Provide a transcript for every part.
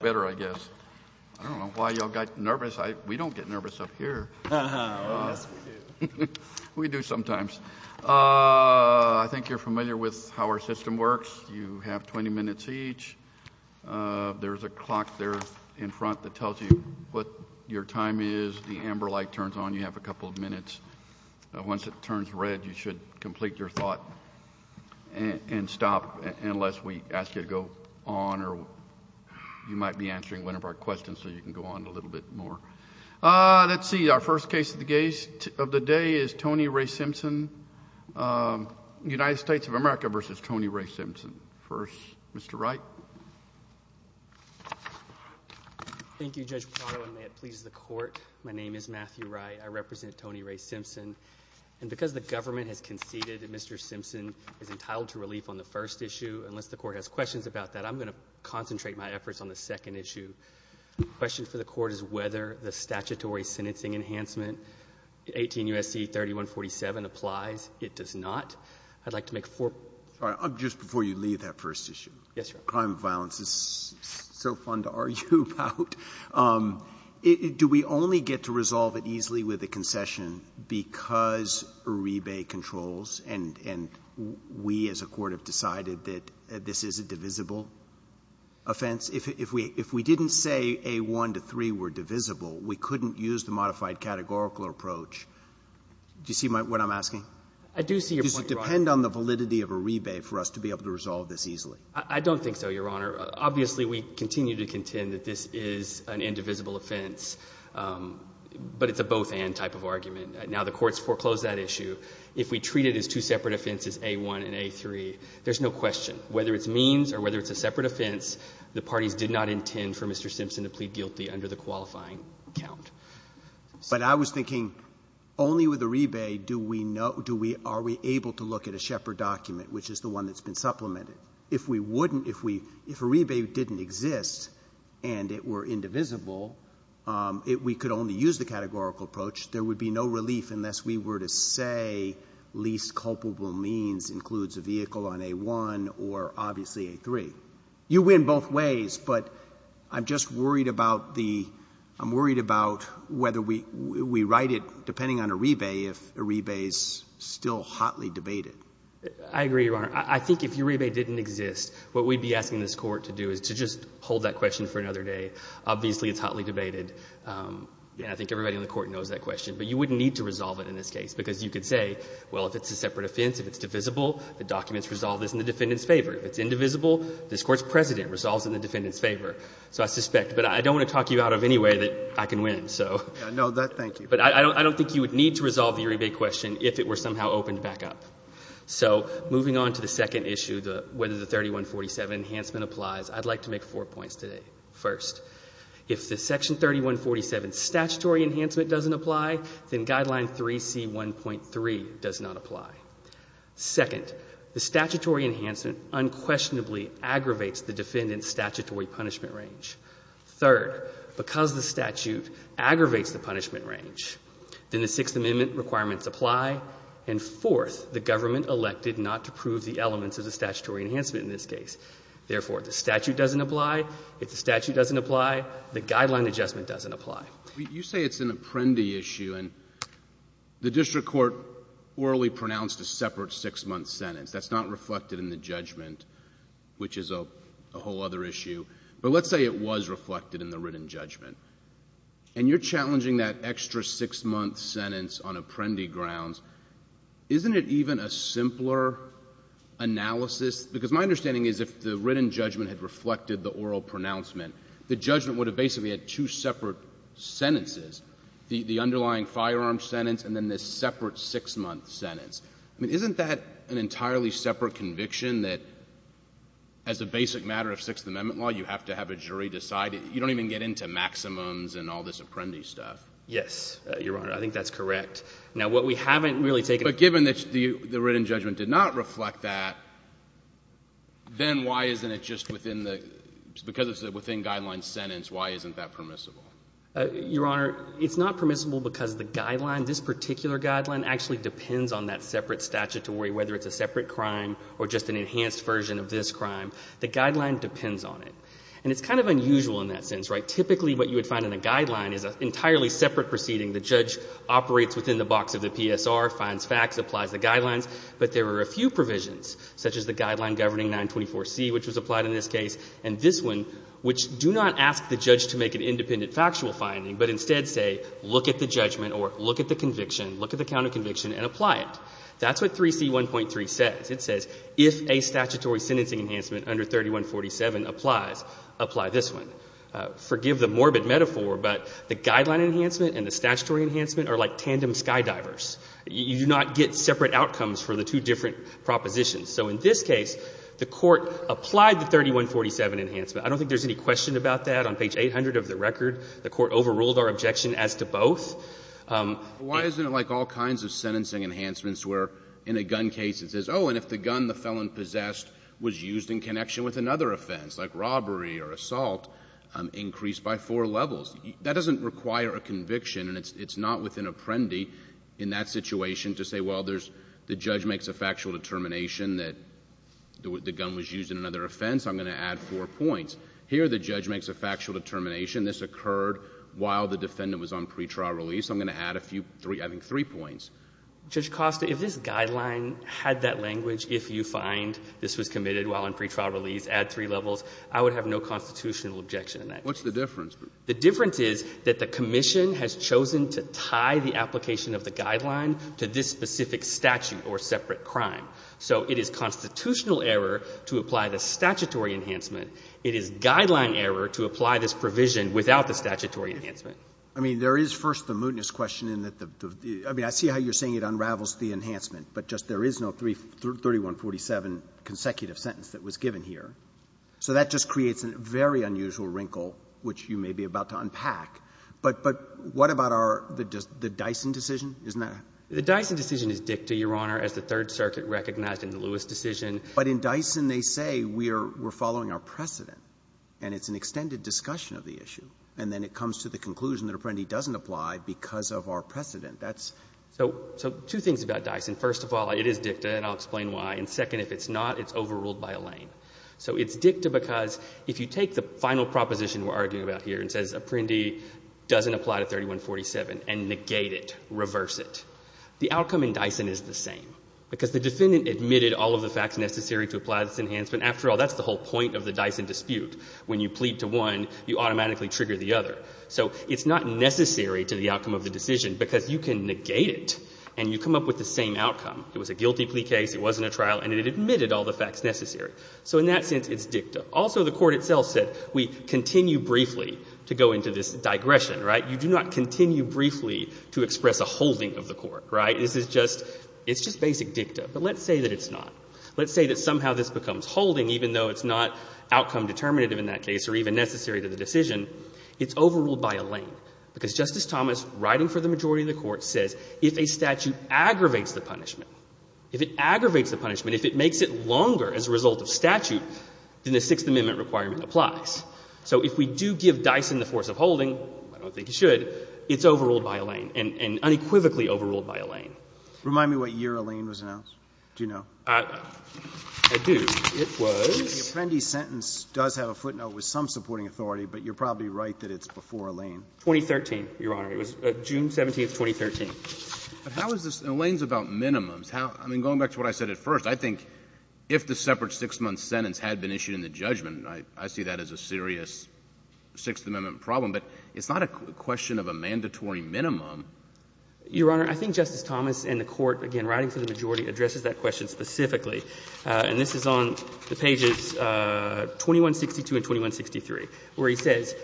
better, I guess. I don't know why y'all got nervous. We don't get nervous up here. We do sometimes. I think you're familiar with how our system works. You have 20 minutes each. There's a clock there in front that tells you what your time is. The amber light turns on, you have a couple of minutes. Once it turns red, you should complete your thought and stop unless we ask you to go on or you might be answering one of our questions, so you can go on a little bit more. Let's see. Our first case of the day is Tony Ray Simpson, United States of America v. Tony Ray Simpson. First, Mr. Wright. Thank you, Judge Parano, and may it please the court. My name is Matthew Wright. I represent Tony Ray Simpson, and because the government has conceded that Mr. Simpson is entitled to relief on the first issue, unless the Court has questions about that, I'm going to concentrate my efforts on the second issue. The question for the Court is whether the statutory sentencing enhancement, 18 U.S.C. 3147, applies. It does not. I'd like to make four points. Roberts. Just before you leave that first issue. Wright. Yes, Your Honor. Crime of violence is so fun to argue about. Do we only get to resolve it easily with a concession because Uribe controls, and we as a court have decided that this is a divisible offense? If we didn't say A1 to 3 were divisible, we couldn't use the modified categorical approach. Do you see what I'm asking? I do see your point, Your Honor. Does it depend on the validity of Uribe for us to be able to resolve this easily? I don't think so, Your Honor. Obviously, we continue to contend that this is an indivisible offense, but it's a both-and type of argument. Now, the courts foreclosed that issue. If we treat it as two separate offenses, A1 and A3, there's no question. Whether it's means or whether it's a separate offense, the parties did not intend for Mr. Simpson to plead guilty under the qualifying count. But I was thinking only with Uribe do we know do we are we able to look at a Shepard document, which is the one that's been supplemented. If we wouldn't, if we if Uribe didn't exist and it were indivisible, if we could only use the categorical approach, there would be no relief unless we were to say least culpable means includes a vehicle on A1 or obviously A3. You win both ways, but I'm just worried about the, I'm worried about whether we write it, depending on Uribe, if Uribe's still hotly debated. I agree, Your Honor. I think if Uribe didn't exist, what we'd be asking this Court to do is to just hold that question for another day. Obviously, it's hotly debated. And I think everybody in the Court knows that question. But you wouldn't need to resolve it in this case, because you could say, well, if it's a separate offense, if it's divisible, the document's resolved in the defendant's favor. If it's indivisible, this Court's precedent resolves in the defendant's favor. So I suspect, but I don't want to talk you out of any way that I can win, so. No, that, thank you. But I don't think you would need to resolve the Uribe question if it were somehow opened back up. So moving on to the second issue, whether the 3147 enhancement applies, I'd like to make four points today. First, if the Section 3147 statutory enhancement doesn't apply, then Guideline 3C1.3 does not apply. Second, the statutory enhancement unquestionably aggravates the defendant's statutory punishment range. Third, because the statute aggravates the punishment range, then the Sixth Amendment requirements apply. And fourth, the government elected not to prove the elements of the statutory enhancement in this case. Therefore, if the statute doesn't apply, if the statute doesn't apply, the Guideline adjustment doesn't apply. You say it's an apprendee issue, and the district court orally pronounced a separate six-month sentence. That's not reflected in the judgment, which is a whole other issue. But let's say it was reflected in the written judgment. And you're challenging that extra six-month sentence on apprendee grounds. Isn't it even a simpler analysis? Because my understanding is if the written judgment had reflected the oral pronouncement, the judgment would have basically had two separate sentences, the underlying firearm sentence and then this separate six-month sentence. I mean, isn't that an entirely separate conviction that as a basic matter of Sixth Amendment law, you have to have a jury decide it? You don't even get into maximums and all this apprendee stuff. Yes, Your Honor. I think that's correct. Now, what we haven't really taken into account If the written judgment did not reflect that, then why isn't it just within the — because it's within Guideline's sentence, why isn't that permissible? Your Honor, it's not permissible because the Guideline, this particular Guideline actually depends on that separate statute to worry whether it's a separate crime or just an enhanced version of this crime. The Guideline depends on it. And it's kind of unusual in that sense, right? Typically, what you would find in a Guideline is an entirely separate proceeding. The judge operates within the box of the PSR, finds facts, applies the Guidelines. But there are a few provisions, such as the Guideline governing 924C, which was applied in this case, and this one, which do not ask the judge to make an independent factual finding, but instead say, look at the judgment or look at the conviction, look at the count of conviction and apply it. That's what 3C1.3 says. It says, if a statutory sentencing enhancement under 3147 applies, apply this one. Forgive the morbid metaphor, but the Guideline enhancement and the statutory enhancement are like tandem skydivers. You do not get separate outcomes for the two different propositions. So in this case, the Court applied the 3147 enhancement. I don't think there's any question about that. On page 800 of the record, the Court overruled our objection as to both. Why isn't it like all kinds of sentencing enhancements where in a gun case it says, oh, and if the gun the felon possessed was used in connection with another offense, like robbery or assault, increased by four levels? That doesn't require a conviction and it's not with an apprendi in that situation to say, well, there's the judge makes a factual determination that the gun was used in another offense, I'm going to add four points. Here the judge makes a factual determination, this occurred while the defendant was on pretrial release, I'm going to add a few, I think, three points. Judge Costa, if this Guideline had that language, if you find this was committed while on pretrial release, add three levels, I would have no constitutional objection in that case. What's the difference? The difference is that the Commission has chosen to tie the application of the Guideline to this specific statute or separate crime. So it is constitutional error to apply the statutory enhancement. It is Guideline error to apply this provision without the statutory enhancement. I mean, there is first the mootness question in that the — I mean, I see how you're saying it unravels the enhancement, but just there is no 3147 consecutive sentence that was given here. So that just creates a very unusual wrinkle, which you may be about to unpack. But what about our — the Dyson decision? Isn't that? The Dyson decision is dicta, Your Honor, as the Third Circuit recognized in the Lewis decision. But in Dyson, they say we are following our precedent, and it's an extended discussion of the issue. And then it comes to the conclusion that Apprendi doesn't apply because of our precedent. That's — So two things about Dyson. First of all, it is dicta, and I'll explain why. And second, if it's not, it's overruled by Alain. So it's dicta because if you take the final proposition we're arguing about here and it says Apprendi doesn't apply to 3147 and negate it, reverse it, the outcome in Dyson is the same because the defendant admitted all of the facts necessary to apply this enhancement. After all, that's the whole point of the Dyson dispute. When you plead to one, you automatically trigger the other. So it's not necessary to the outcome of the decision because you can negate it, and you come up with the same outcome. It was a guilty plea case. It wasn't a trial, and it admitted all the facts necessary. So in that sense, it's dicta. Also, the Court itself said we continue briefly to go into this digression, right? You do not continue briefly to express a holding of the Court, right? This is just — it's just basic dicta. But let's say that it's not. Let's say that somehow this becomes holding, even though it's not outcome determinative in that case or even necessary to the decision. It's overruled by Alain because Justice Thomas, writing for the majority of the Court, says if a statute aggravates the punishment, if it aggravates the punishment, if it makes it longer as a result of statute, then the Sixth Amendment requirement applies. So if we do give Dyson the force of holding, I don't think it should, it's overruled by Alain, and unequivocally overruled by Alain. Remind me what year Alain was announced. Do you know? I do. It was — The appendix sentence does have a footnote with some supporting authority, but you're probably right that it's before Alain. 2013, Your Honor. It was June 17th, 2013. But how is this — Alain's about minimums. I mean, going back to what I said at first, I think if the separate six-month sentence had been issued in the judgment, I see that as a serious Sixth Amendment problem. But it's not a question of a mandatory minimum. Your Honor, I think Justice Thomas and the Court, again, writing for the majority, addresses that question specifically. And this is on the pages 2162 and 2163, where he says,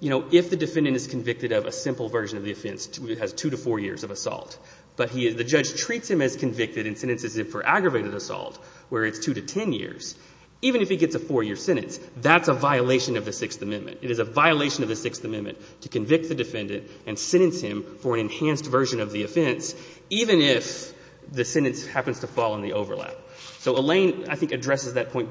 you know, if the defendant is convicted of a simple version of the offense that has two to four years of assault, but he — the judge treats him as convicted and sentences him for aggravated assault, where it's two to ten years, even if he gets a four-year sentence, that's a violation of the Sixth Amendment. It is a violation of the Sixth Amendment to convict the defendant and sentence him for an enhanced version of the offense, even if the sentence happens to fall in the overlap. So Alain, I think, addresses that point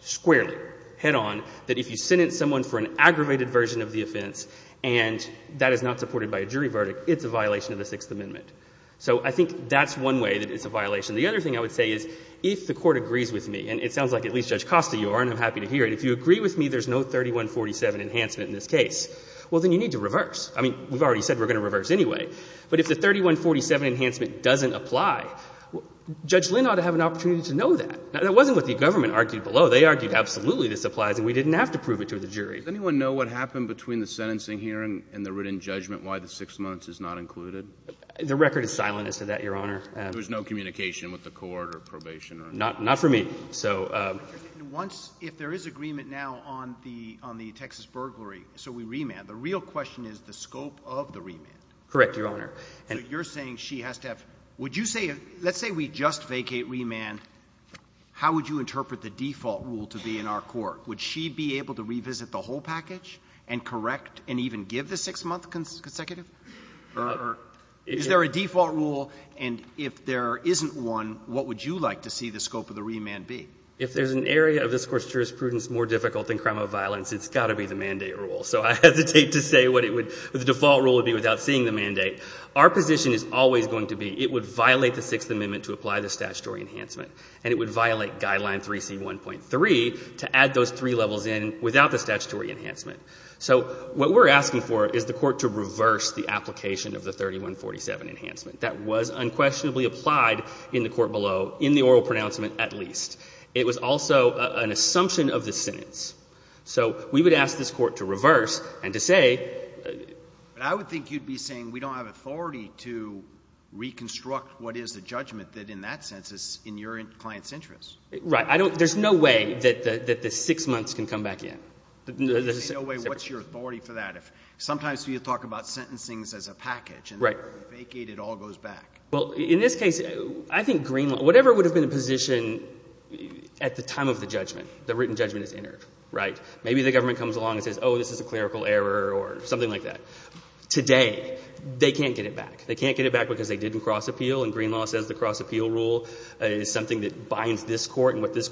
squarely, head-on, that if you sentence someone for an aggravated version of the offense and that is not supported by a jury verdict, it's a violation of the Sixth Amendment. So I think that's one way that it's a violation. The other thing I would say is, if the Court agrees with me — and it sounds like at least Judge Costa, Your Honor, I'm happy to hear it — if you agree with me there's no 3147 enhancement in this case, well, then you need to reverse. I mean, we've already said we're going to reverse anyway. But if the 3147 enhancement doesn't apply, Judge Lynn ought to have an opportunity to know that. That wasn't what the government argued below. They argued absolutely this applies and we didn't have to prove it to the jury. Does anyone know what happened between the sentencing hearing and the written judgment, why the six months is not included? The record is silent as to that, Your Honor. There was no communication with the court or probation or anything? Not for me. Once, if there is agreement now on the Texas burglary, so we remand, the real question is the scope of the remand. Correct, Your Honor. So you're saying she has to have — would you say — let's say we just vacate remand, how would you interpret the default rule to be in our court? Would she be able to revisit the whole package and correct and even give the six-month consecutive? Or is there a default rule, and if there isn't one, what would you like to see the scope of the remand be? If there's an area of this Court's jurisprudence more difficult than crime of violence, it's got to be the mandate rule. So I hesitate to say what it would — the default rule would be without seeing the mandate. Our position is always going to be it would violate the Sixth Amendment to apply the statutory enhancement, and it would violate Guideline 3C1.3 to add those three levels in without the statutory enhancement. So what we're asking for is the Court to reverse the application of the 3147 enhancement. That was unquestionably applied in the Court below, in the oral pronouncement at least. It was also an assumption of the sentence. So we would ask this Court to reverse and to say — But I would think you'd be saying we don't have authority to reconstruct what is the judgment that in that sense is in your client's interest. Right. I don't — there's no way that the six months can come back in. There's no way. What's your authority for that? Sometimes you talk about sentencing as a package, and then when you vacate it all goes back. Well, in this case, I think Greenlaw — whatever would have been the position at the time of the judgment, the written judgment is entered, right? Maybe the government comes along and says, oh, this is a clerical error or something like that. Today, they can't get it back. They can't get it back because they didn't cross-appeal, and Greenlaw says the cross-appeal rule is something that binds this Court and what this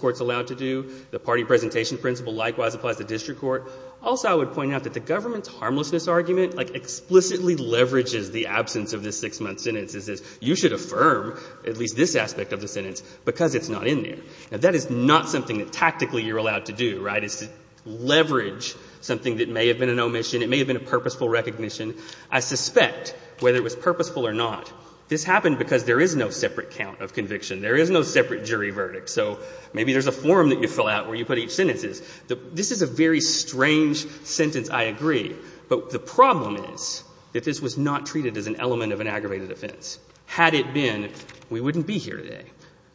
Also, I would point out that the government's harmlessness argument explicitly leverages the absence of this six-month sentence. It says you should affirm at least this aspect of the sentence because it's not in there. Now, that is not something that tactically you're allowed to do, right? It's to leverage something that may have been an omission. It may have been a purposeful recognition. I suspect, whether it was purposeful or not, this happened because there is no separate count of conviction. There is no separate jury verdict. So maybe there's a form that you fill out where you put each sentence. This is a very strange sentence, I agree. But the problem is that this was not treated as an element of an aggravated offense. Had it been, we wouldn't be here today,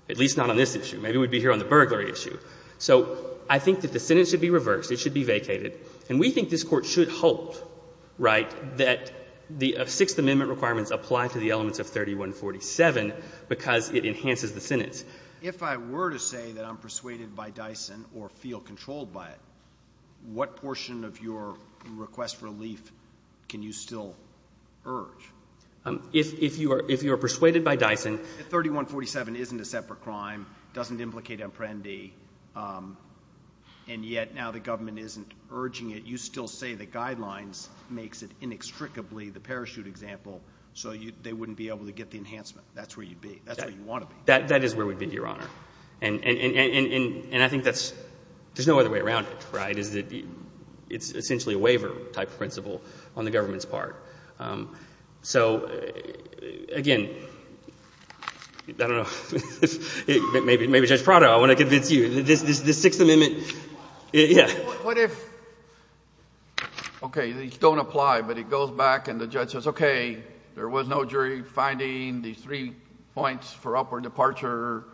at least not on this issue. Maybe we'd be here on the burglary issue. So I think that the sentence should be reversed. It should be vacated. And we think this Court should hold, right, that the Sixth Amendment requirements apply to the elements of 3147 because it enhances the sentence. If I were to say that I'm persuaded by Dyson or feel controlled by it, what portion of your request for relief can you still urge? If you are persuaded by Dyson... If 3147 isn't a separate crime, doesn't implicate imprendi, and yet now the government isn't urging it, you still say the guidelines makes it inextricably the parachute example so they wouldn't be able to get the enhancement. That's where you'd be. That's where you want to be. That is where we'd be, Your Honor. And I think that's, there's no other way around it, right, is that it's essentially a waiver-type principle on the government's part. So again, I don't know, maybe Judge Prado, I want to convince you that this Sixth Amendment... What if, okay, these don't apply, but it goes back and the judge says, okay, there was no jury finding. These three points for upward departure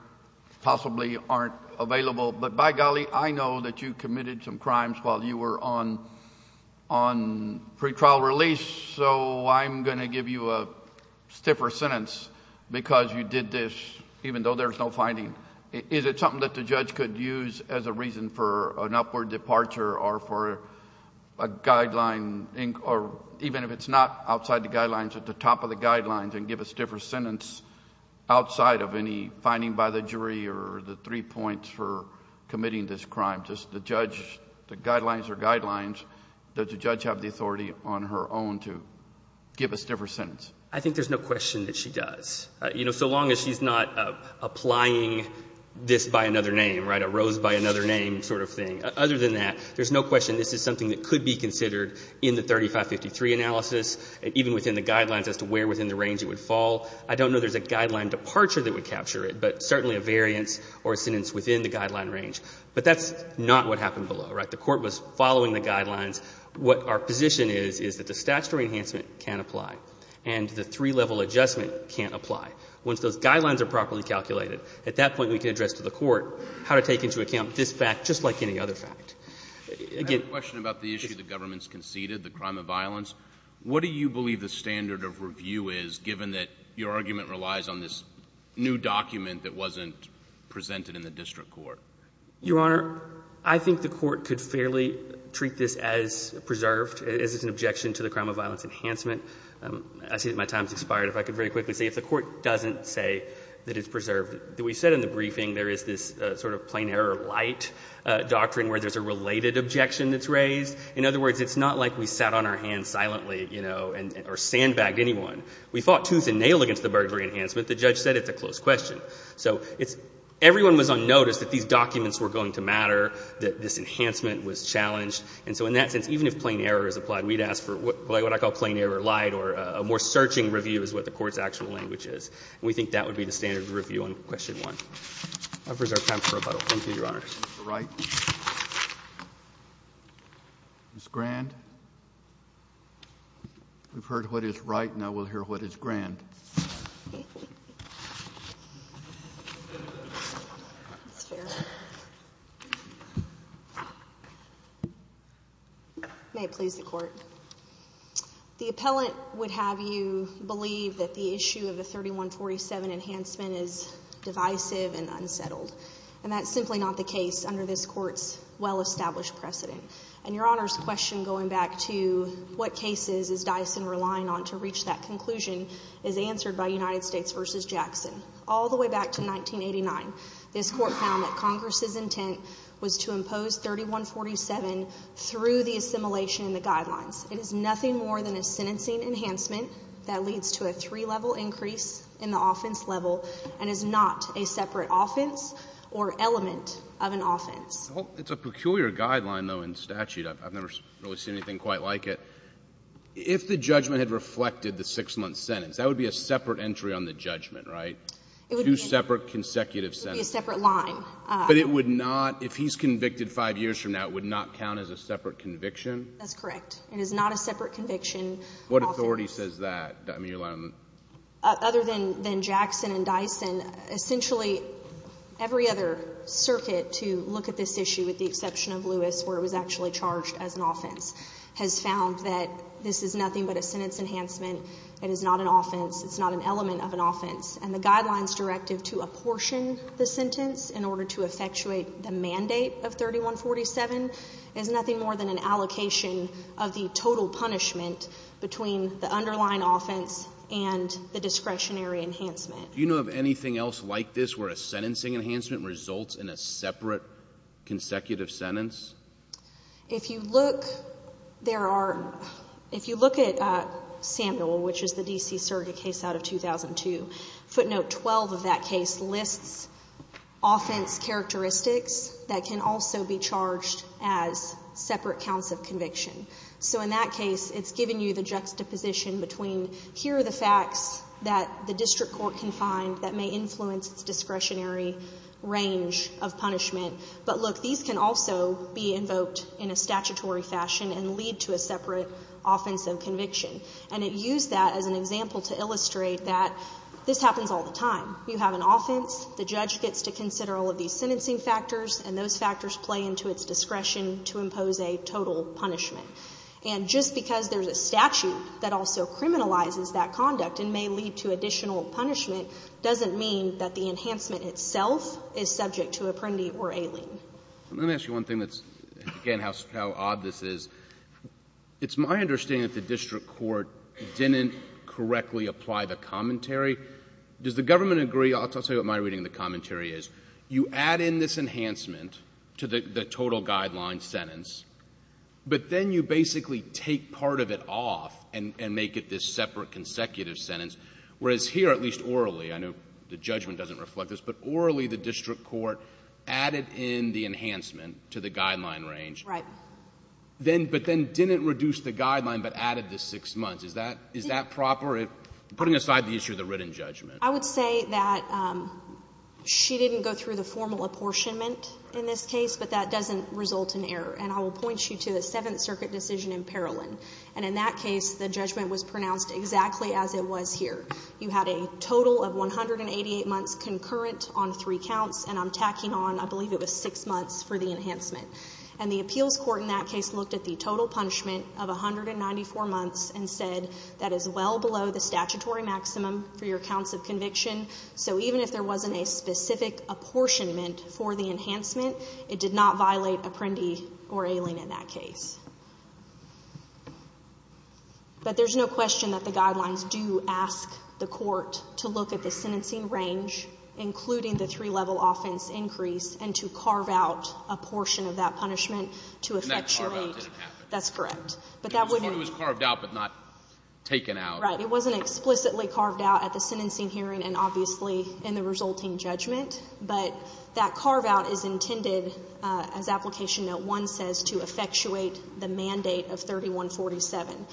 possibly aren't available, but by golly, I know that you committed some crimes while you were on pre-trial release, so I'm going to give you a stiffer sentence because you did this even though there's no finding. Is it something that the judge could use as a reason for an upward departure or for a guideline or even if it's not outside the guidelines at the top of the guidelines and give a stiffer sentence outside of any finding by the jury or the three points for committing this crime? Does the judge, the guidelines are guidelines. Does the judge have the authority on her own to give a stiffer sentence? I think there's no question that she does. You know, so long as she's not applying this by another name, right, a rose by another name sort of thing. Other than that, there's no question this is something that could be considered in the 3553 analysis and even within the guidelines as to where within the range it would fall. I don't know there's a guideline departure that would capture it, but certainly a variance or a sentence within the guideline range, but that's not what happened below, right? The court was following the guidelines. What our position is is that the statutory enhancement can apply and the three-level adjustment can't apply. Once those guidelines are properly calculated, at that point we can address to the court how to take into account this fact, just like any other fact. Again, just to go back to the question about the issue the government's conceded, the crime of violence, what do you believe the standard of review is, given that your argument relies on this new document that wasn't presented in the district court? Your Honor, I think the court could fairly treat this as preserved, as it's an objection to the crime of violence enhancement. I see that my time has expired. If I could very quickly say if the court doesn't say that it's preserved, we said in the briefing there is this sort of plain error light doctrine where there's a related objection that's raised. In other words, it's not like we sat on our hands silently, you know, or sandbagged anyone. We fought tooth and nail against the burglary enhancement. The judge said it's a closed question. So it's — everyone was on notice that these documents were going to matter, that this enhancement was challenged. And so in that sense, even if plain error is applied, we'd ask for what I call plain error light or a more searching review is what the court's actual language is. And we think that would be the standard of review on question one. I'll preserve time for rebuttal. Thank you, Your Honor. Ms. Wright. Ms. Grand. We've heard what is Wright, now we'll hear what is Grand. May it please the Court. The appellant would have you believe that the issue of the 3147 enhancement is divisive and unsettled. And that's simply not the case under this court's well-established precedent. And Your Honor's question going back to what cases is Dyson relying on to reach that conclusion is answered by United States v. Jackson. All the way back to 1989, this court found that Congress's intent was to impose 3147 through the assimilation in the guidelines. It is nothing more than a sentencing enhancement that leads to a three-level increase in the offense level and is not a separate offense or element of an offense. Well, it's a peculiar guideline, though, in statute. I've never really seen anything quite like it. If the judgment had reflected the six-month sentence, that would be a separate entry on the judgment, right? It would be a separate line. Two separate consecutive sentences. But it would not, if he's convicted five years from now, it would not count as a separate conviction? That's correct. It is not a separate conviction. What authority says that, Your Honor? Other than Jackson and Dyson, essentially every other circuit to look at this issue with the exception of Lewis, where it was actually charged as an offense, has found that this is nothing but a sentence enhancement. It is not an offense. It's not an element of an offense. And the Guidelines Directive to apportion the sentence in order to effectuate the mandate of 3147 is nothing more than an allocation of the total punishment between the underlying offense and the discretionary enhancement. Do you know of anything else like this where a sentencing enhancement results in a separate consecutive sentence? If you look, there are, if you look at Samuel, which is the D.C. surrogate case out of 2002, footnote 12 of that case lists offense characteristics that can also be charged as separate counts of conviction. So in that case, it's giving you the juxtaposition between here are the facts that the district court can find that may influence its discretionary range of punishment. But look, these can also be invoked in a statutory fashion and lead to a separate offense of This happens all the time. You have an offense. The judge gets to consider all of these sentencing factors, and those factors play into its discretion to impose a total punishment. And just because there's a statute that also criminalizes that conduct and may lead to additional punishment doesn't mean that the enhancement itself is subject to Apprendi or Aileen. Let me ask you one thing that's, again, how odd this is. It's my understanding that the district court didn't correctly apply the commentary. Does the government agree? I'll tell you what my reading of the commentary is. You add in this enhancement to the total guideline sentence, but then you basically take part of it off and make it this separate consecutive sentence, whereas here, at least orally, I know the judgment doesn't reflect this, but orally the district court added in the enhancement to the guideline range, but then didn't reduce the guideline but added the six months. Is that proper, putting aside the issue of the written judgment? I would say that she didn't go through the formal apportionment in this case, but that doesn't result in error. And I will point you to the Seventh Circuit decision in Parolin. And in that case, the judgment was pronounced exactly as it was here. You had a total of 188 months concurrent on three counts, and I'm tacking on, I believe it was six months for the enhancement. And the appeals court in that case looked at the total punishment of 194 months and said that is well below the statutory maximum for your counts of conviction. So even if there wasn't a specific apportionment for the enhancement, it did not violate apprendee or ailing in that case. But there's no question that the guidelines do ask the court to look at the sentencing range, including the three-level offense increase, and to carve out a portion of that punishment to effectuate. And that carve-out didn't happen. That's correct. But that wouldn't be The court was carved out but not taken out. Right. It wasn't explicitly carved out at the sentencing hearing and obviously in the resulting judgment. But that carve-out is intended, as Application Note 1 says, to effectuate the mandate of 3147.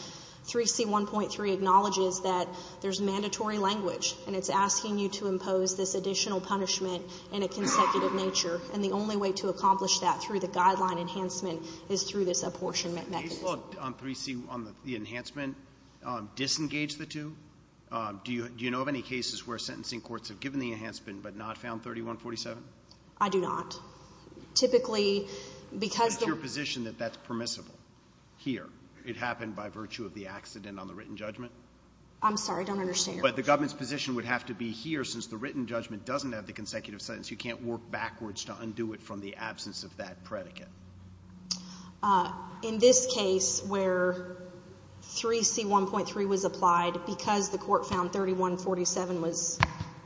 3C1.3 acknowledges that there's mandatory language, and it's asking you to impose this additional punishment in a consecutive nature. And the only way to accomplish that through the guideline enhancement is through this apportionment mechanism. Did the case law on 3C, on the enhancement, disengage the two? Do you know of any cases where sentencing courts have given the enhancement but not found 3147? I do not. Typically, because the It's your position that that's permissible here. It happened by virtue of the accident on the written judgment. I'm sorry. I don't understand. But the government's position would have to be here since the written judgment doesn't have the consecutive sentence. You can't work backwards to undo it from the absence of that predicate. In this case where 3C1.3 was applied because the court found 3147 was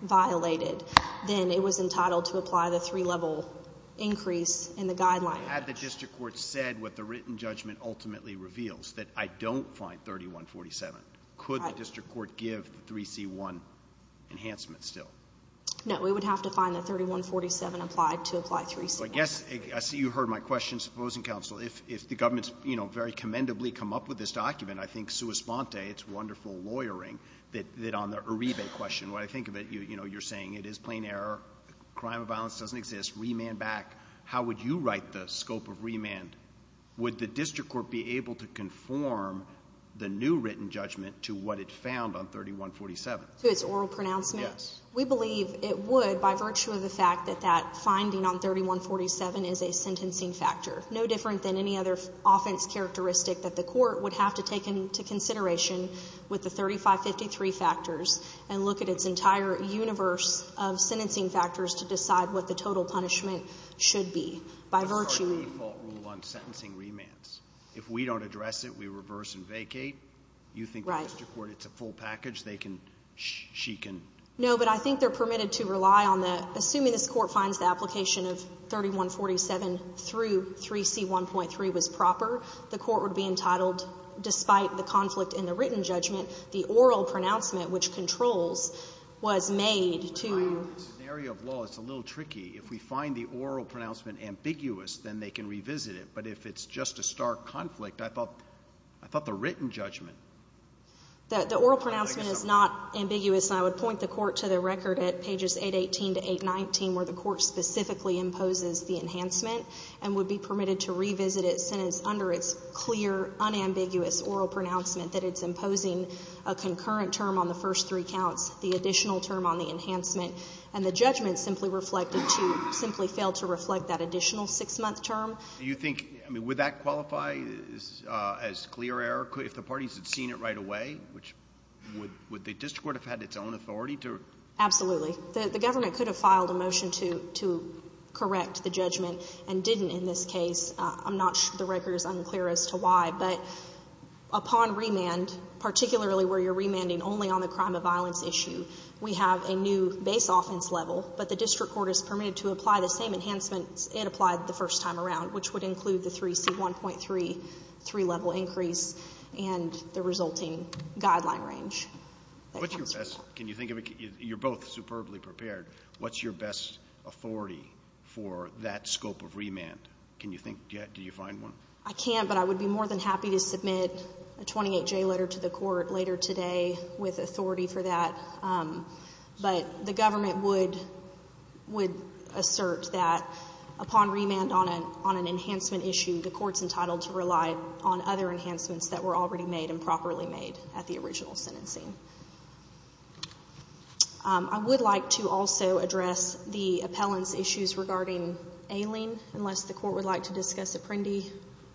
violated, then it was entitled to apply the three-level increase in the guideline. Had the district court said what the written judgment ultimately reveals, that I don't find 3147. Could the district court give the 3C1 enhancement still? No. We would have to find the 3147 applied to apply 3C1. But yes, I see you heard my question, Supposing Counsel. If the government's, you know, very commendably come up with this document, I think, sua sponte, it's wonderful lawyering that on the Uribe question, when I think of it, you know, you're saying it is plain error, crime of violence doesn't exist, remand back. How would you write the scope of remand? Would the district court be able to conform the new written judgment to what it found on 3147? To its oral pronouncement? Yes. We believe it would by virtue of the fact that that finding on 3147 is a sentencing factor, no different than any other offense characteristic that the court would have to take into consideration with the 3553 factors and look at its entire universe of sentencing factors to decide what the total punishment should be. By virtue of the Default rule on sentencing remands. If we don't address it, we reverse and vacate. You think the district court, it's a full package, they can, she can No, but I think they're permitted to rely on the, assuming this court finds the application of 3147 through 3C1.3 was proper, the court would be entitled, despite the conflict in the written judgment, the oral pronouncement, which controls, was made to In the area of law, it's a little tricky. If we find the oral pronouncement ambiguous, then they can revisit it. But if it's just a stark conflict, I thought, I thought the written judgment. That the oral pronouncement is not ambiguous. And I would point the court to the record at pages 818 to 819, where the court specifically imposes the enhancement and would be permitted to revisit it sentence under it's clear, unambiguous oral pronouncement that it's imposing a concurrent term on the first three counts, the additional term on the enhancement and the judgment simply reflected to, simply failed to reflect that additional six month term. You think, I mean, would that qualify as clear error if the parties had seen it right away, which would, would the district court have had its own authority to? Absolutely. The government could have filed a motion to, to correct the judgment and didn't in this case. I'm not sure the record is unclear as to why, but upon remand, particularly where you're remanding only on the crime of violence issue, we have a new base offense level, but the district court is permitted to apply the same enhancements it applied the first time around, which would include the 3C1.3 three level increase and the resulting guideline range. What's your best, can you think of, you're both superbly prepared. What's your best authority for that scope of remand? Can you think, do you find one? I can't, but I would be more than happy to submit a 28J letter to the court later today with authority for that. But the government would, would assert that upon remand on a, on an enhancement issue, the court's entitled to rely on other enhancements that were already made and properly made at the original sentencing. I would like to also address the appellant's issues regarding ailing, unless the court would like to discuss Apprendi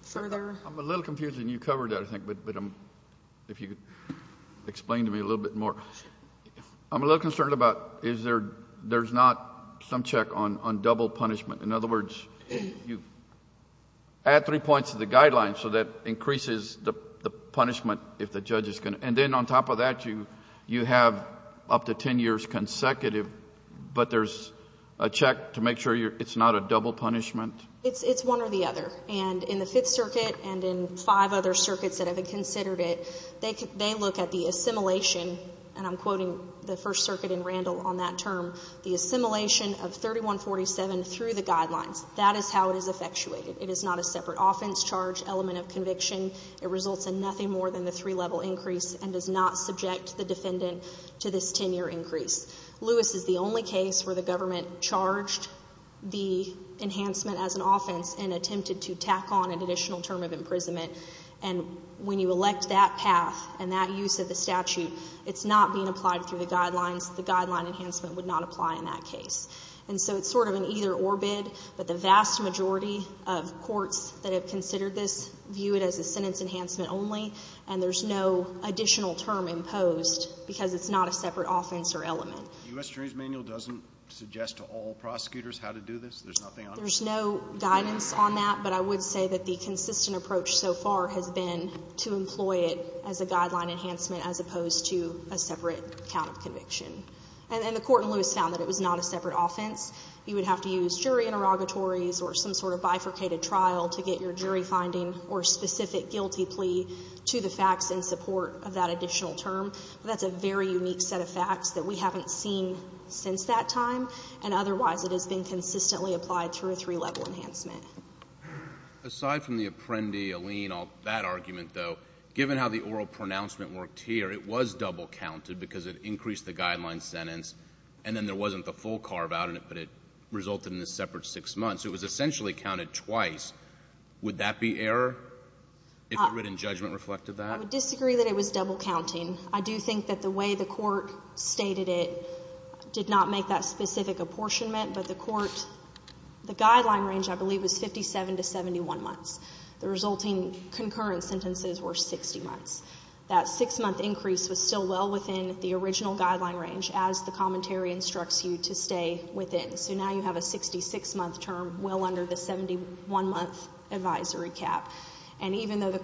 further. I'm a little confused and you covered that, I think, but, but, um, if you could explain to me a little bit more, I'm a little concerned about, is there, there's not some check on, on double punishment. In other words, you add three points to the guidelines. So that increases the punishment if the judge is going to, and then on top of that, you, you have up to 10 years consecutive, but there's a check to make sure you're, it's not a double punishment. It's, it's one or the other. And in the Fifth Circuit and in five other circuits that have been considered it, they can, they look at the assimilation and I'm quoting the First Circuit in Randall on that term, the assimilation of 3147 through the guidelines, that is how it is effectuated. It is not a separate offense charge element of conviction. It results in nothing more than the three level increase and does not subject the defendant to this 10 year increase. Lewis is the only case where the government charged the enhancement as an additional term of imprisonment. And when you elect that path and that use of the statute, it's not being applied through the guidelines. The guideline enhancement would not apply in that case. And so it's sort of an either or bid, but the vast majority of courts that have considered this view it as a sentence enhancement only. And there's no additional term imposed because it's not a separate offense or element. The U.S. There's nothing on it. There's no guidance on that, but I would say that the consistent approach so far has been to employ it as a guideline enhancement as opposed to a separate count of conviction. And the court in Lewis found that it was not a separate offense. You would have to use jury interrogatories or some sort of bifurcated trial to get your jury finding or specific guilty plea to the facts in support of that additional term. That's a very unique set of facts that we haven't seen since that time. And otherwise it has been consistently applied through a three level enhancement. Aside from the Apprendi, Alene, all that argument though, given how the oral pronouncement worked here, it was double counted because it increased the guideline sentence and then there wasn't the full carve out in it, but it resulted in this separate six months. It was essentially counted twice. Would that be error if the written judgment reflected that? I would disagree that it was double counting. I do think that the way the court stated it did not make that specific apportionment, but the court, the guideline range I believe was 57 to 71 months. The resulting concurrent sentences were 60 months. That six month increase was still well within the original guideline range as the commentary instructs you to stay within. So now you have a 66 month term well under the 71 month advisory cap. And even though the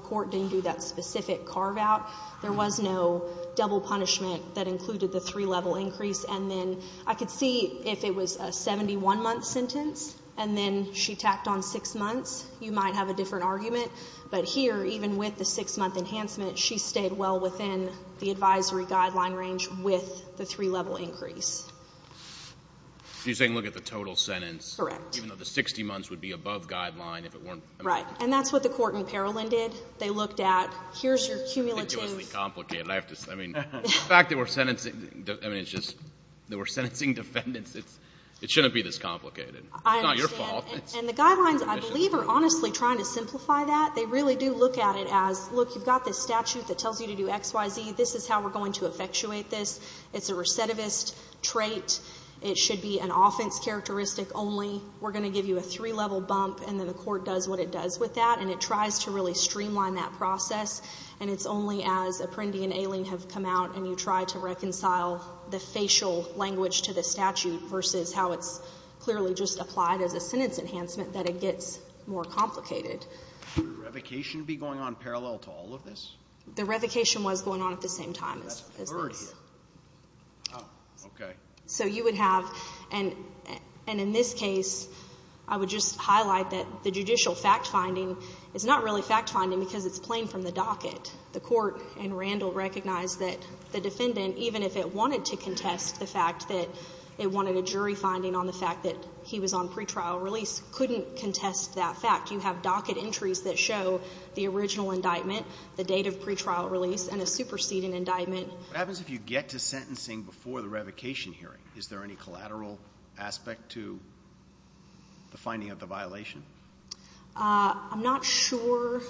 court didn't do that specific carve out, there was no double punishment that included the three level increase. And then I could see if it was a 71 month sentence and then she tacked on six months, you might have a different argument. But here, even with the six month enhancement, she stayed well within the advisory guideline range with the three level increase. So you're saying look at the total sentence, even though the 60 months would be above guideline if it weren't. Right. And that's what the court in Parolin did. They looked at, here's your cumulative. I think it was the complicated, I have to say. I mean, the fact that we're sentencing, I mean, it's just, that we're sentencing defendants, it shouldn't be this complicated. It's not your fault. And the guidelines, I believe, are honestly trying to simplify that. They really do look at it as, look, you've got this statute that tells you to do X, Y, Z. This is how we're going to effectuate this. It's a recidivist trait. It should be an offense characteristic only. We're going to give you a three level bump and then the court does what it does with that, and it tries to really streamline that process, and it's only as Apprendi and Ayling have come out and you try to reconcile the facial language to the statute versus how it's clearly just applied as a sentence enhancement that it gets more complicated. Would the revocation be going on parallel to all of this? The revocation was going on at the same time. That's a third here. Oh, okay. So you would have, and in this case, I would just highlight that the judicial fact finding is not really fact finding because it's plain from the docket. The court and Randall recognized that the defendant, even if it wanted to contest the fact that it wanted a jury finding on the fact that he was on pretrial release, couldn't contest that fact. You have docket entries that show the original indictment, the date of pretrial release, and a superseding indictment. What happens if you get to sentencing before the revocation hearing? Is there any collateral aspect to the finding of the violation? I'm not sure.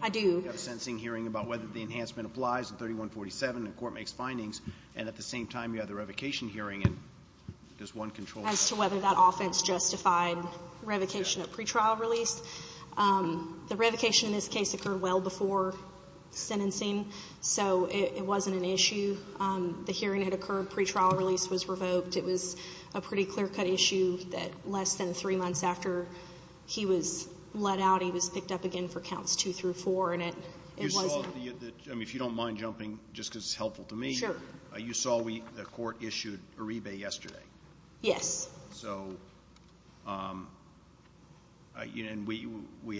I do. You have a sentencing hearing about whether the enhancement applies in 3147, and the court makes findings, and at the same time, you have the revocation hearing, and there's one control. As to whether that offense justified revocation at pretrial release. The revocation in this case occurred well before sentencing, so it wasn't an issue, the hearing had occurred, pretrial release was revoked. It was a pretty clear cut issue that less than three months after he was let out, he was picked up again for counts two through four, and it wasn't. If you don't mind jumping, just because it's helpful to me, you saw the court issued Uribe yesterday. Yes. So, and we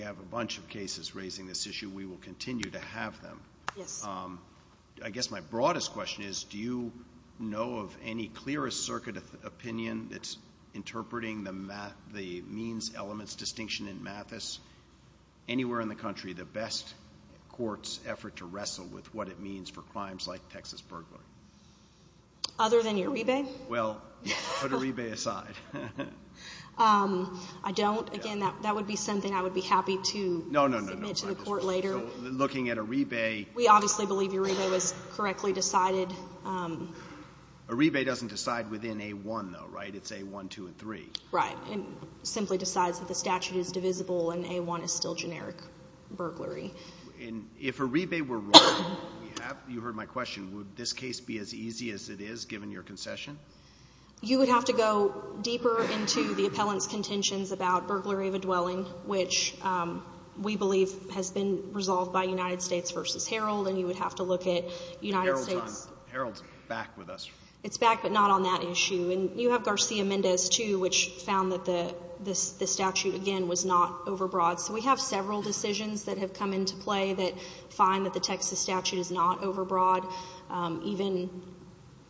have a bunch of cases raising this issue. We will continue to have them. Yes. I guess my broadest question is, do you know of any clearest circuit opinion that's interpreting the means elements distinction in Mathis? Anywhere in the country, the best court's effort to wrestle with what it means for crimes like Texas burglary? Other than Uribe? Well, put Uribe aside. I don't. Again, that would be something I would be happy to submit to the court later. No, no, no, looking at Uribe. We obviously believe Uribe was correctly decided. Uribe doesn't decide within a one though, right? It's a one, two, and three. Right. And simply decides that the statute is divisible and a one is still generic burglary. And if Uribe were wrong, you heard my question, would this case be as easy as it is given your concession? You would have to go deeper into the appellant's contentions about burglary of a dwelling, which we believe has been resolved by United States versus Herald, and you would have to look at United States. Herald's back with us. It's back, but not on that issue. And you have Garcia-Mendez too, which found that the statute, again, was not overbroad. So we have several decisions that have come into play that find that the Texas statute is not overbroad. Even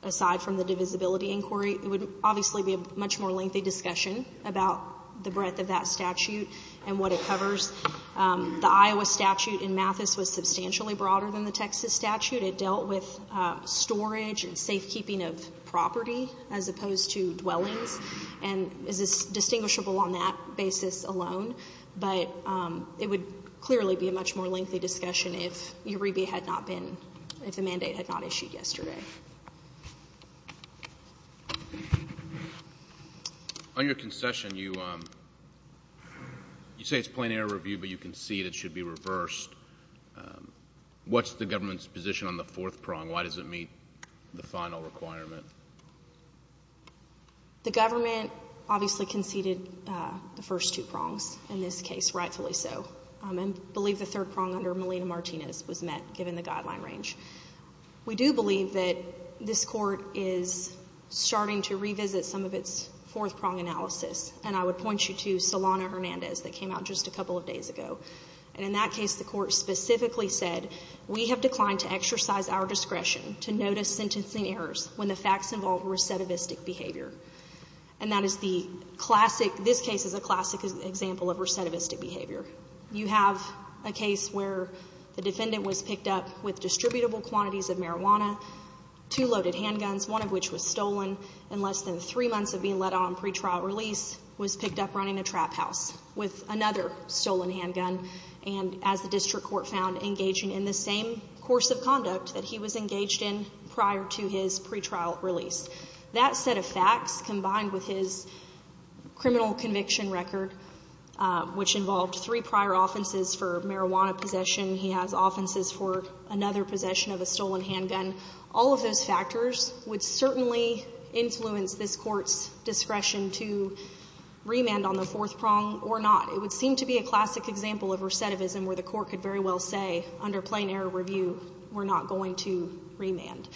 aside from the divisibility inquiry, it would obviously be a much more lengthy discussion about the breadth of that statute and what it covers. The Iowa statute in Mathis was substantially broader than the Texas statute. It dealt with storage and safekeeping of property as opposed to dwellings. And is this distinguishable on that basis alone? But it would clearly be a much more lengthy discussion if Uribe had not been, if the mandate had not issued yesterday. On your concession, you say it's plain error review, but you concede it should be reversed. What's the government's position on the fourth prong? Why does it meet the final requirement? The government obviously conceded the first two prongs, in this case, rightfully so, and believe the third prong under Melina Martinez was met, given the guideline range. We do believe that this Court is starting to revisit some of its fourth prong analysis, and I would point you to Solano-Hernandez that came out just a couple of days ago. And in that case, the Court specifically said, we have declined to exercise our discretion to notice sentencing errors when the facts involve recidivistic behavior. And that is the classic, this case is a classic example of recidivistic behavior. You have a case where the defendant was picked up with distributable quantities of marijuana, two loaded handguns, one of which was stolen in less than three months of being let on pretrial release, was picked up running a trap house with another stolen handgun, and as the district court found, engaging in the same course of conduct that he was engaged in prior to his pretrial release. That set of facts, combined with his criminal conviction record, which involved three prior offenses for marijuana possession, he has offenses for another possession of a stolen handgun, all of those factors would certainly influence this Court's discretion to remand on the fourth prong or not. It would seem to be a classic example of recidivism where the Court could very well say, under plain error review, we're not going to remand.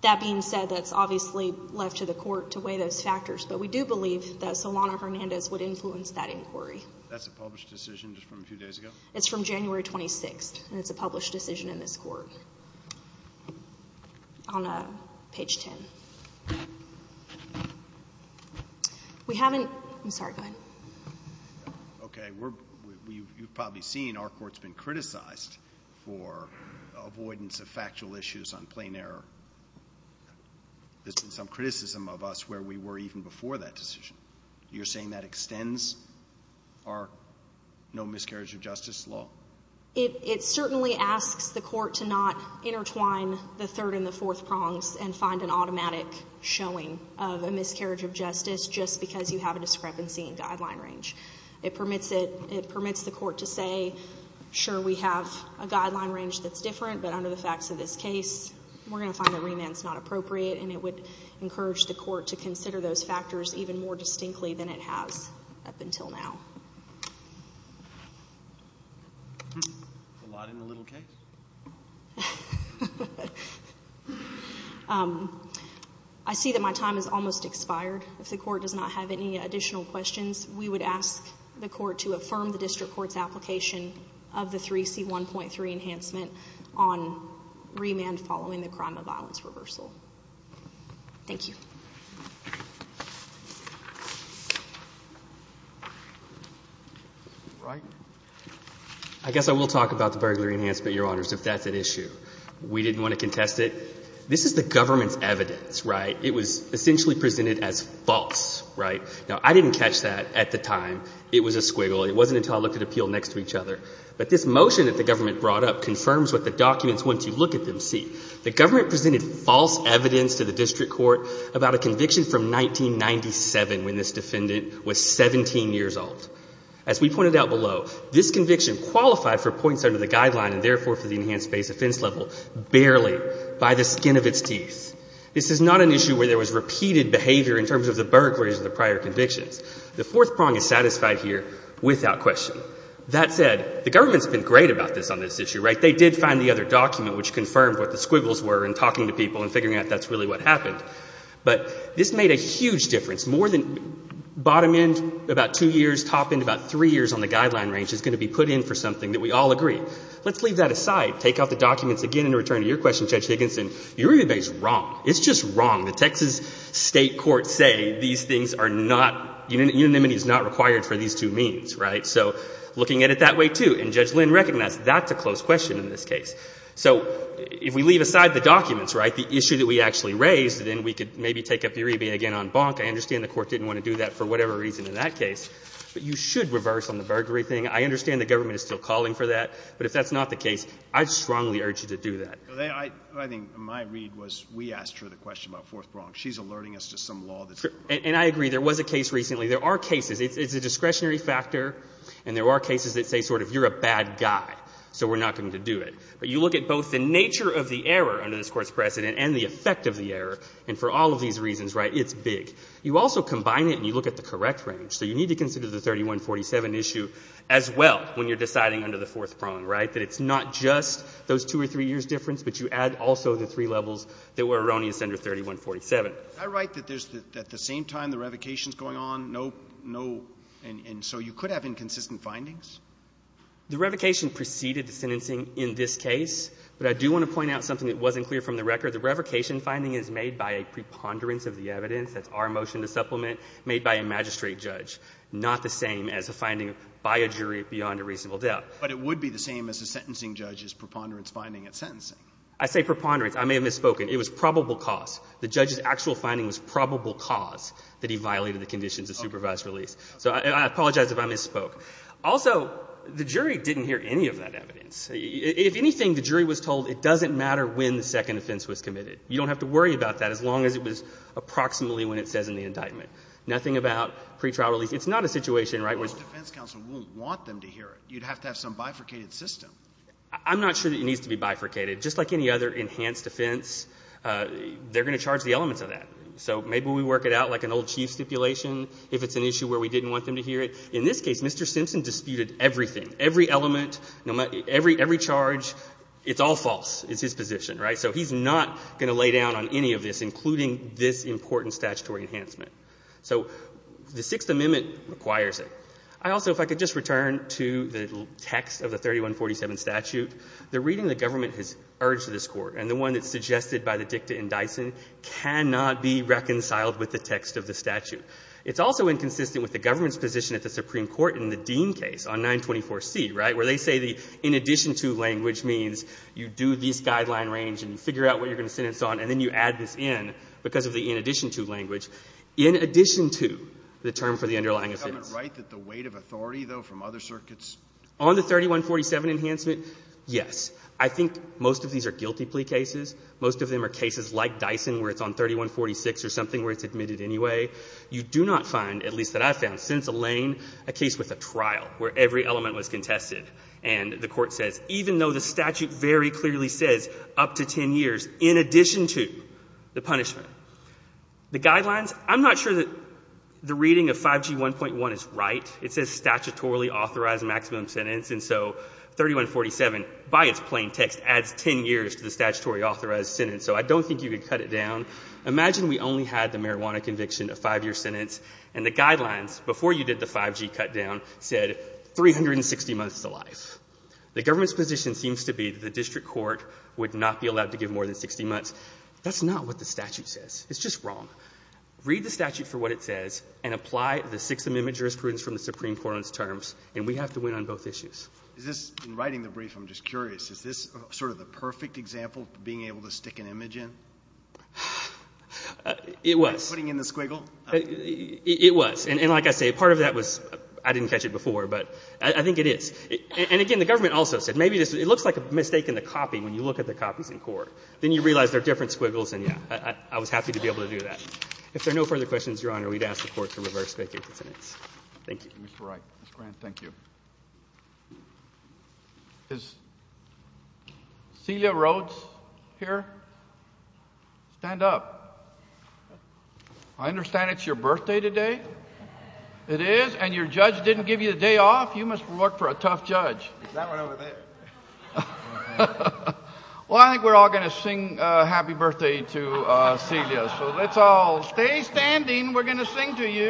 That being said, that's obviously left to the Court to weigh those factors, but we do believe that Solano-Hernandez would influence that inquiry. That's a published decision just from a few days ago? It's from January 26th, and it's a published decision in this Court on page 10. We haven't – I'm sorry, go ahead. Okay. We're – you've probably seen our Court's been criticized for avoidance of factual issues on plain error. There's been some criticism of us where we were even before that decision. You're saying that extends our no miscarriage of justice law? It certainly asks the Court to not intertwine the third and the fourth prongs and find an automatic showing of a miscarriage of justice just because you have a discrepancy in guideline range. It permits it – it permits the Court to say, sure, we have a guideline range that's different, but under the facts of this case, we're going to find that remand's not as distinctly than it has up until now. A lot in the little case? I see that my time has almost expired. If the Court does not have any additional questions, we would ask the Court to affirm the district court's application of the 3C1.3 enhancement on remand following the crime of violence reversal. Thank you. I guess I will talk about the burglary enhancement, Your Honors, if that's an issue. We didn't want to contest it. This is the government's evidence, right? It was essentially presented as false, right? Now, I didn't catch that at the time. It was a squiggle. It wasn't until I looked at appeal next to each other. But this motion that the government brought up confirms what the documents, once you look at them, see. The government presented false evidence to the district court about a conviction from 1997 when this defendant was 17 years old. As we pointed out below, this conviction qualified for points under the guideline and therefore for the enhanced base offense level barely by the skin of its teeth. This is not an issue where there was repeated behavior in terms of the burglaries of the prior convictions. The fourth prong is satisfied here without question. That said, the government's been great about this on this issue, right? Where the squiggles were in talking to people and figuring out if that's really what happened. But this made a huge difference. More than bottom end, about two years. Top end, about three years on the guideline range is going to be put in for something that we all agree. Let's leave that aside. Take out the documents again in return to your question, Judge Higginson. Your argument is wrong. It's just wrong. The Texas state courts say these things are not, unanimity is not required for these two means, right? So looking at it that way too, and Judge Lynn recognized that's a close question in this case. So if we leave aside the documents, right, the issue that we actually raised, then we could maybe take up the array again on bonk. I understand the court didn't want to do that for whatever reason in that case, but you should reverse on the burglary thing. I understand the government is still calling for that, but if that's not the case, I strongly urge you to do that. I think my read was we asked her the question about fourth prong. She's alerting us to some law that's wrong. And I agree. There was a case recently. There are cases. It's a discretionary factor, and there are cases that say sort of you're a bad guy, so we're not going to do it. But you look at both the nature of the error under this Court's precedent and the effect of the error, and for all of these reasons, right, it's big. You also combine it and you look at the correct range. So you need to consider the 3147 issue as well when you're deciding under the fourth prong, right, that it's not just those two or three years difference, but you add also the three levels that were erroneous under 3147. Can I write that there's at the same time the revocation's going on, no, no, and so you could have inconsistent findings? The revocation preceded the sentencing in this case. But I do want to point out something that wasn't clear from the record. The revocation finding is made by a preponderance of the evidence. That's our motion to supplement, made by a magistrate judge, not the same as a finding by a jury beyond a reasonable doubt. But it would be the same as a sentencing judge's preponderance finding at sentencing. I say preponderance. I may have misspoken. It was probable cause. The judge's actual finding was probable cause that he violated the conditions of supervised release. So I apologize if I misspoke. Also, the jury didn't hear any of that evidence. If anything, the jury was told it doesn't matter when the second offense was committed. You don't have to worry about that as long as it was approximately when it says in the indictment. Nothing about pretrial release. It's not a situation, right, where the defense counsel won't want them to hear it. You'd have to have some bifurcated system. I'm not sure that it needs to be bifurcated. Just like any other enhanced offense, they're going to charge the elements of that. So maybe we work it out like an old chief stipulation if it's an issue where we didn't want them to hear it. In this case, Mr. Simpson disputed everything, every element, every charge. It's all false. It's his position, right? So he's not going to lay down on any of this, including this important statutory enhancement. So the Sixth Amendment requires it. I also, if I could just return to the text of the 3147 statute, the reading the government has urged this Court and the one that's suggested by the dicta in Dyson cannot be reconciled with the text of the statute. It's also inconsistent with the government's position at the Supreme Court in the Dean case on 924C, right, where they say the in addition to language means you do this guideline range and figure out what you're going to sentence on, and then you add this in because of the in addition to language. In addition to the term for the underlying offense. Is the government right that the weight of authority, though, from other circuits On the 3147 enhancement, yes. I think most of these are guilty plea cases. Most of them are cases like Dyson where it's on 3146 or something where it's admitted anyway. You do not find, at least that I found, since Alain, a case with a trial where every element was contested. And the Court says even though the statute very clearly says up to ten years in addition to the punishment, the guidelines, I'm not sure that the reading of 5G1.1 is right. It says statutorily authorized maximum sentence. And so 3147, by its plain text, adds ten years to the statutory authorized sentence. So I don't think you could cut it down. Imagine we only had the marijuana conviction, a five-year sentence, and the guidelines before you did the 5G cut down said 360 months to life. The government's position seems to be that the district court would not be allowed to give more than 60 months. That's not what the statute says. It's just wrong. Read the statute for what it says and apply the Sixth Amendment jurisprudence from the Supreme Court on its terms, and we have to win on both issues. In writing the brief, I'm just curious. Is this sort of the perfect example of being able to stick an image in? It was. Putting in the squiggle? It was. And like I say, part of that was I didn't catch it before, but I think it is. And, again, the government also said maybe it looks like a mistake in the copy when you look at the copies in court. Then you realize they're different squiggles, and, yeah, I was happy to be able to do that. If there are no further questions, Your Honor, we'd ask the Court to reverse vacate the sentence. Thank you. Mr. Wright. Mr. Grant, thank you. Is Celia Rhodes here? Stand up. I understand it's your birthday today. It is? And your judge didn't give you the day off? You must work for a tough judge. That one over there. Well, I think we're all going to sing happy birthday to Celia. So let's all stay standing. We're going to sing to you.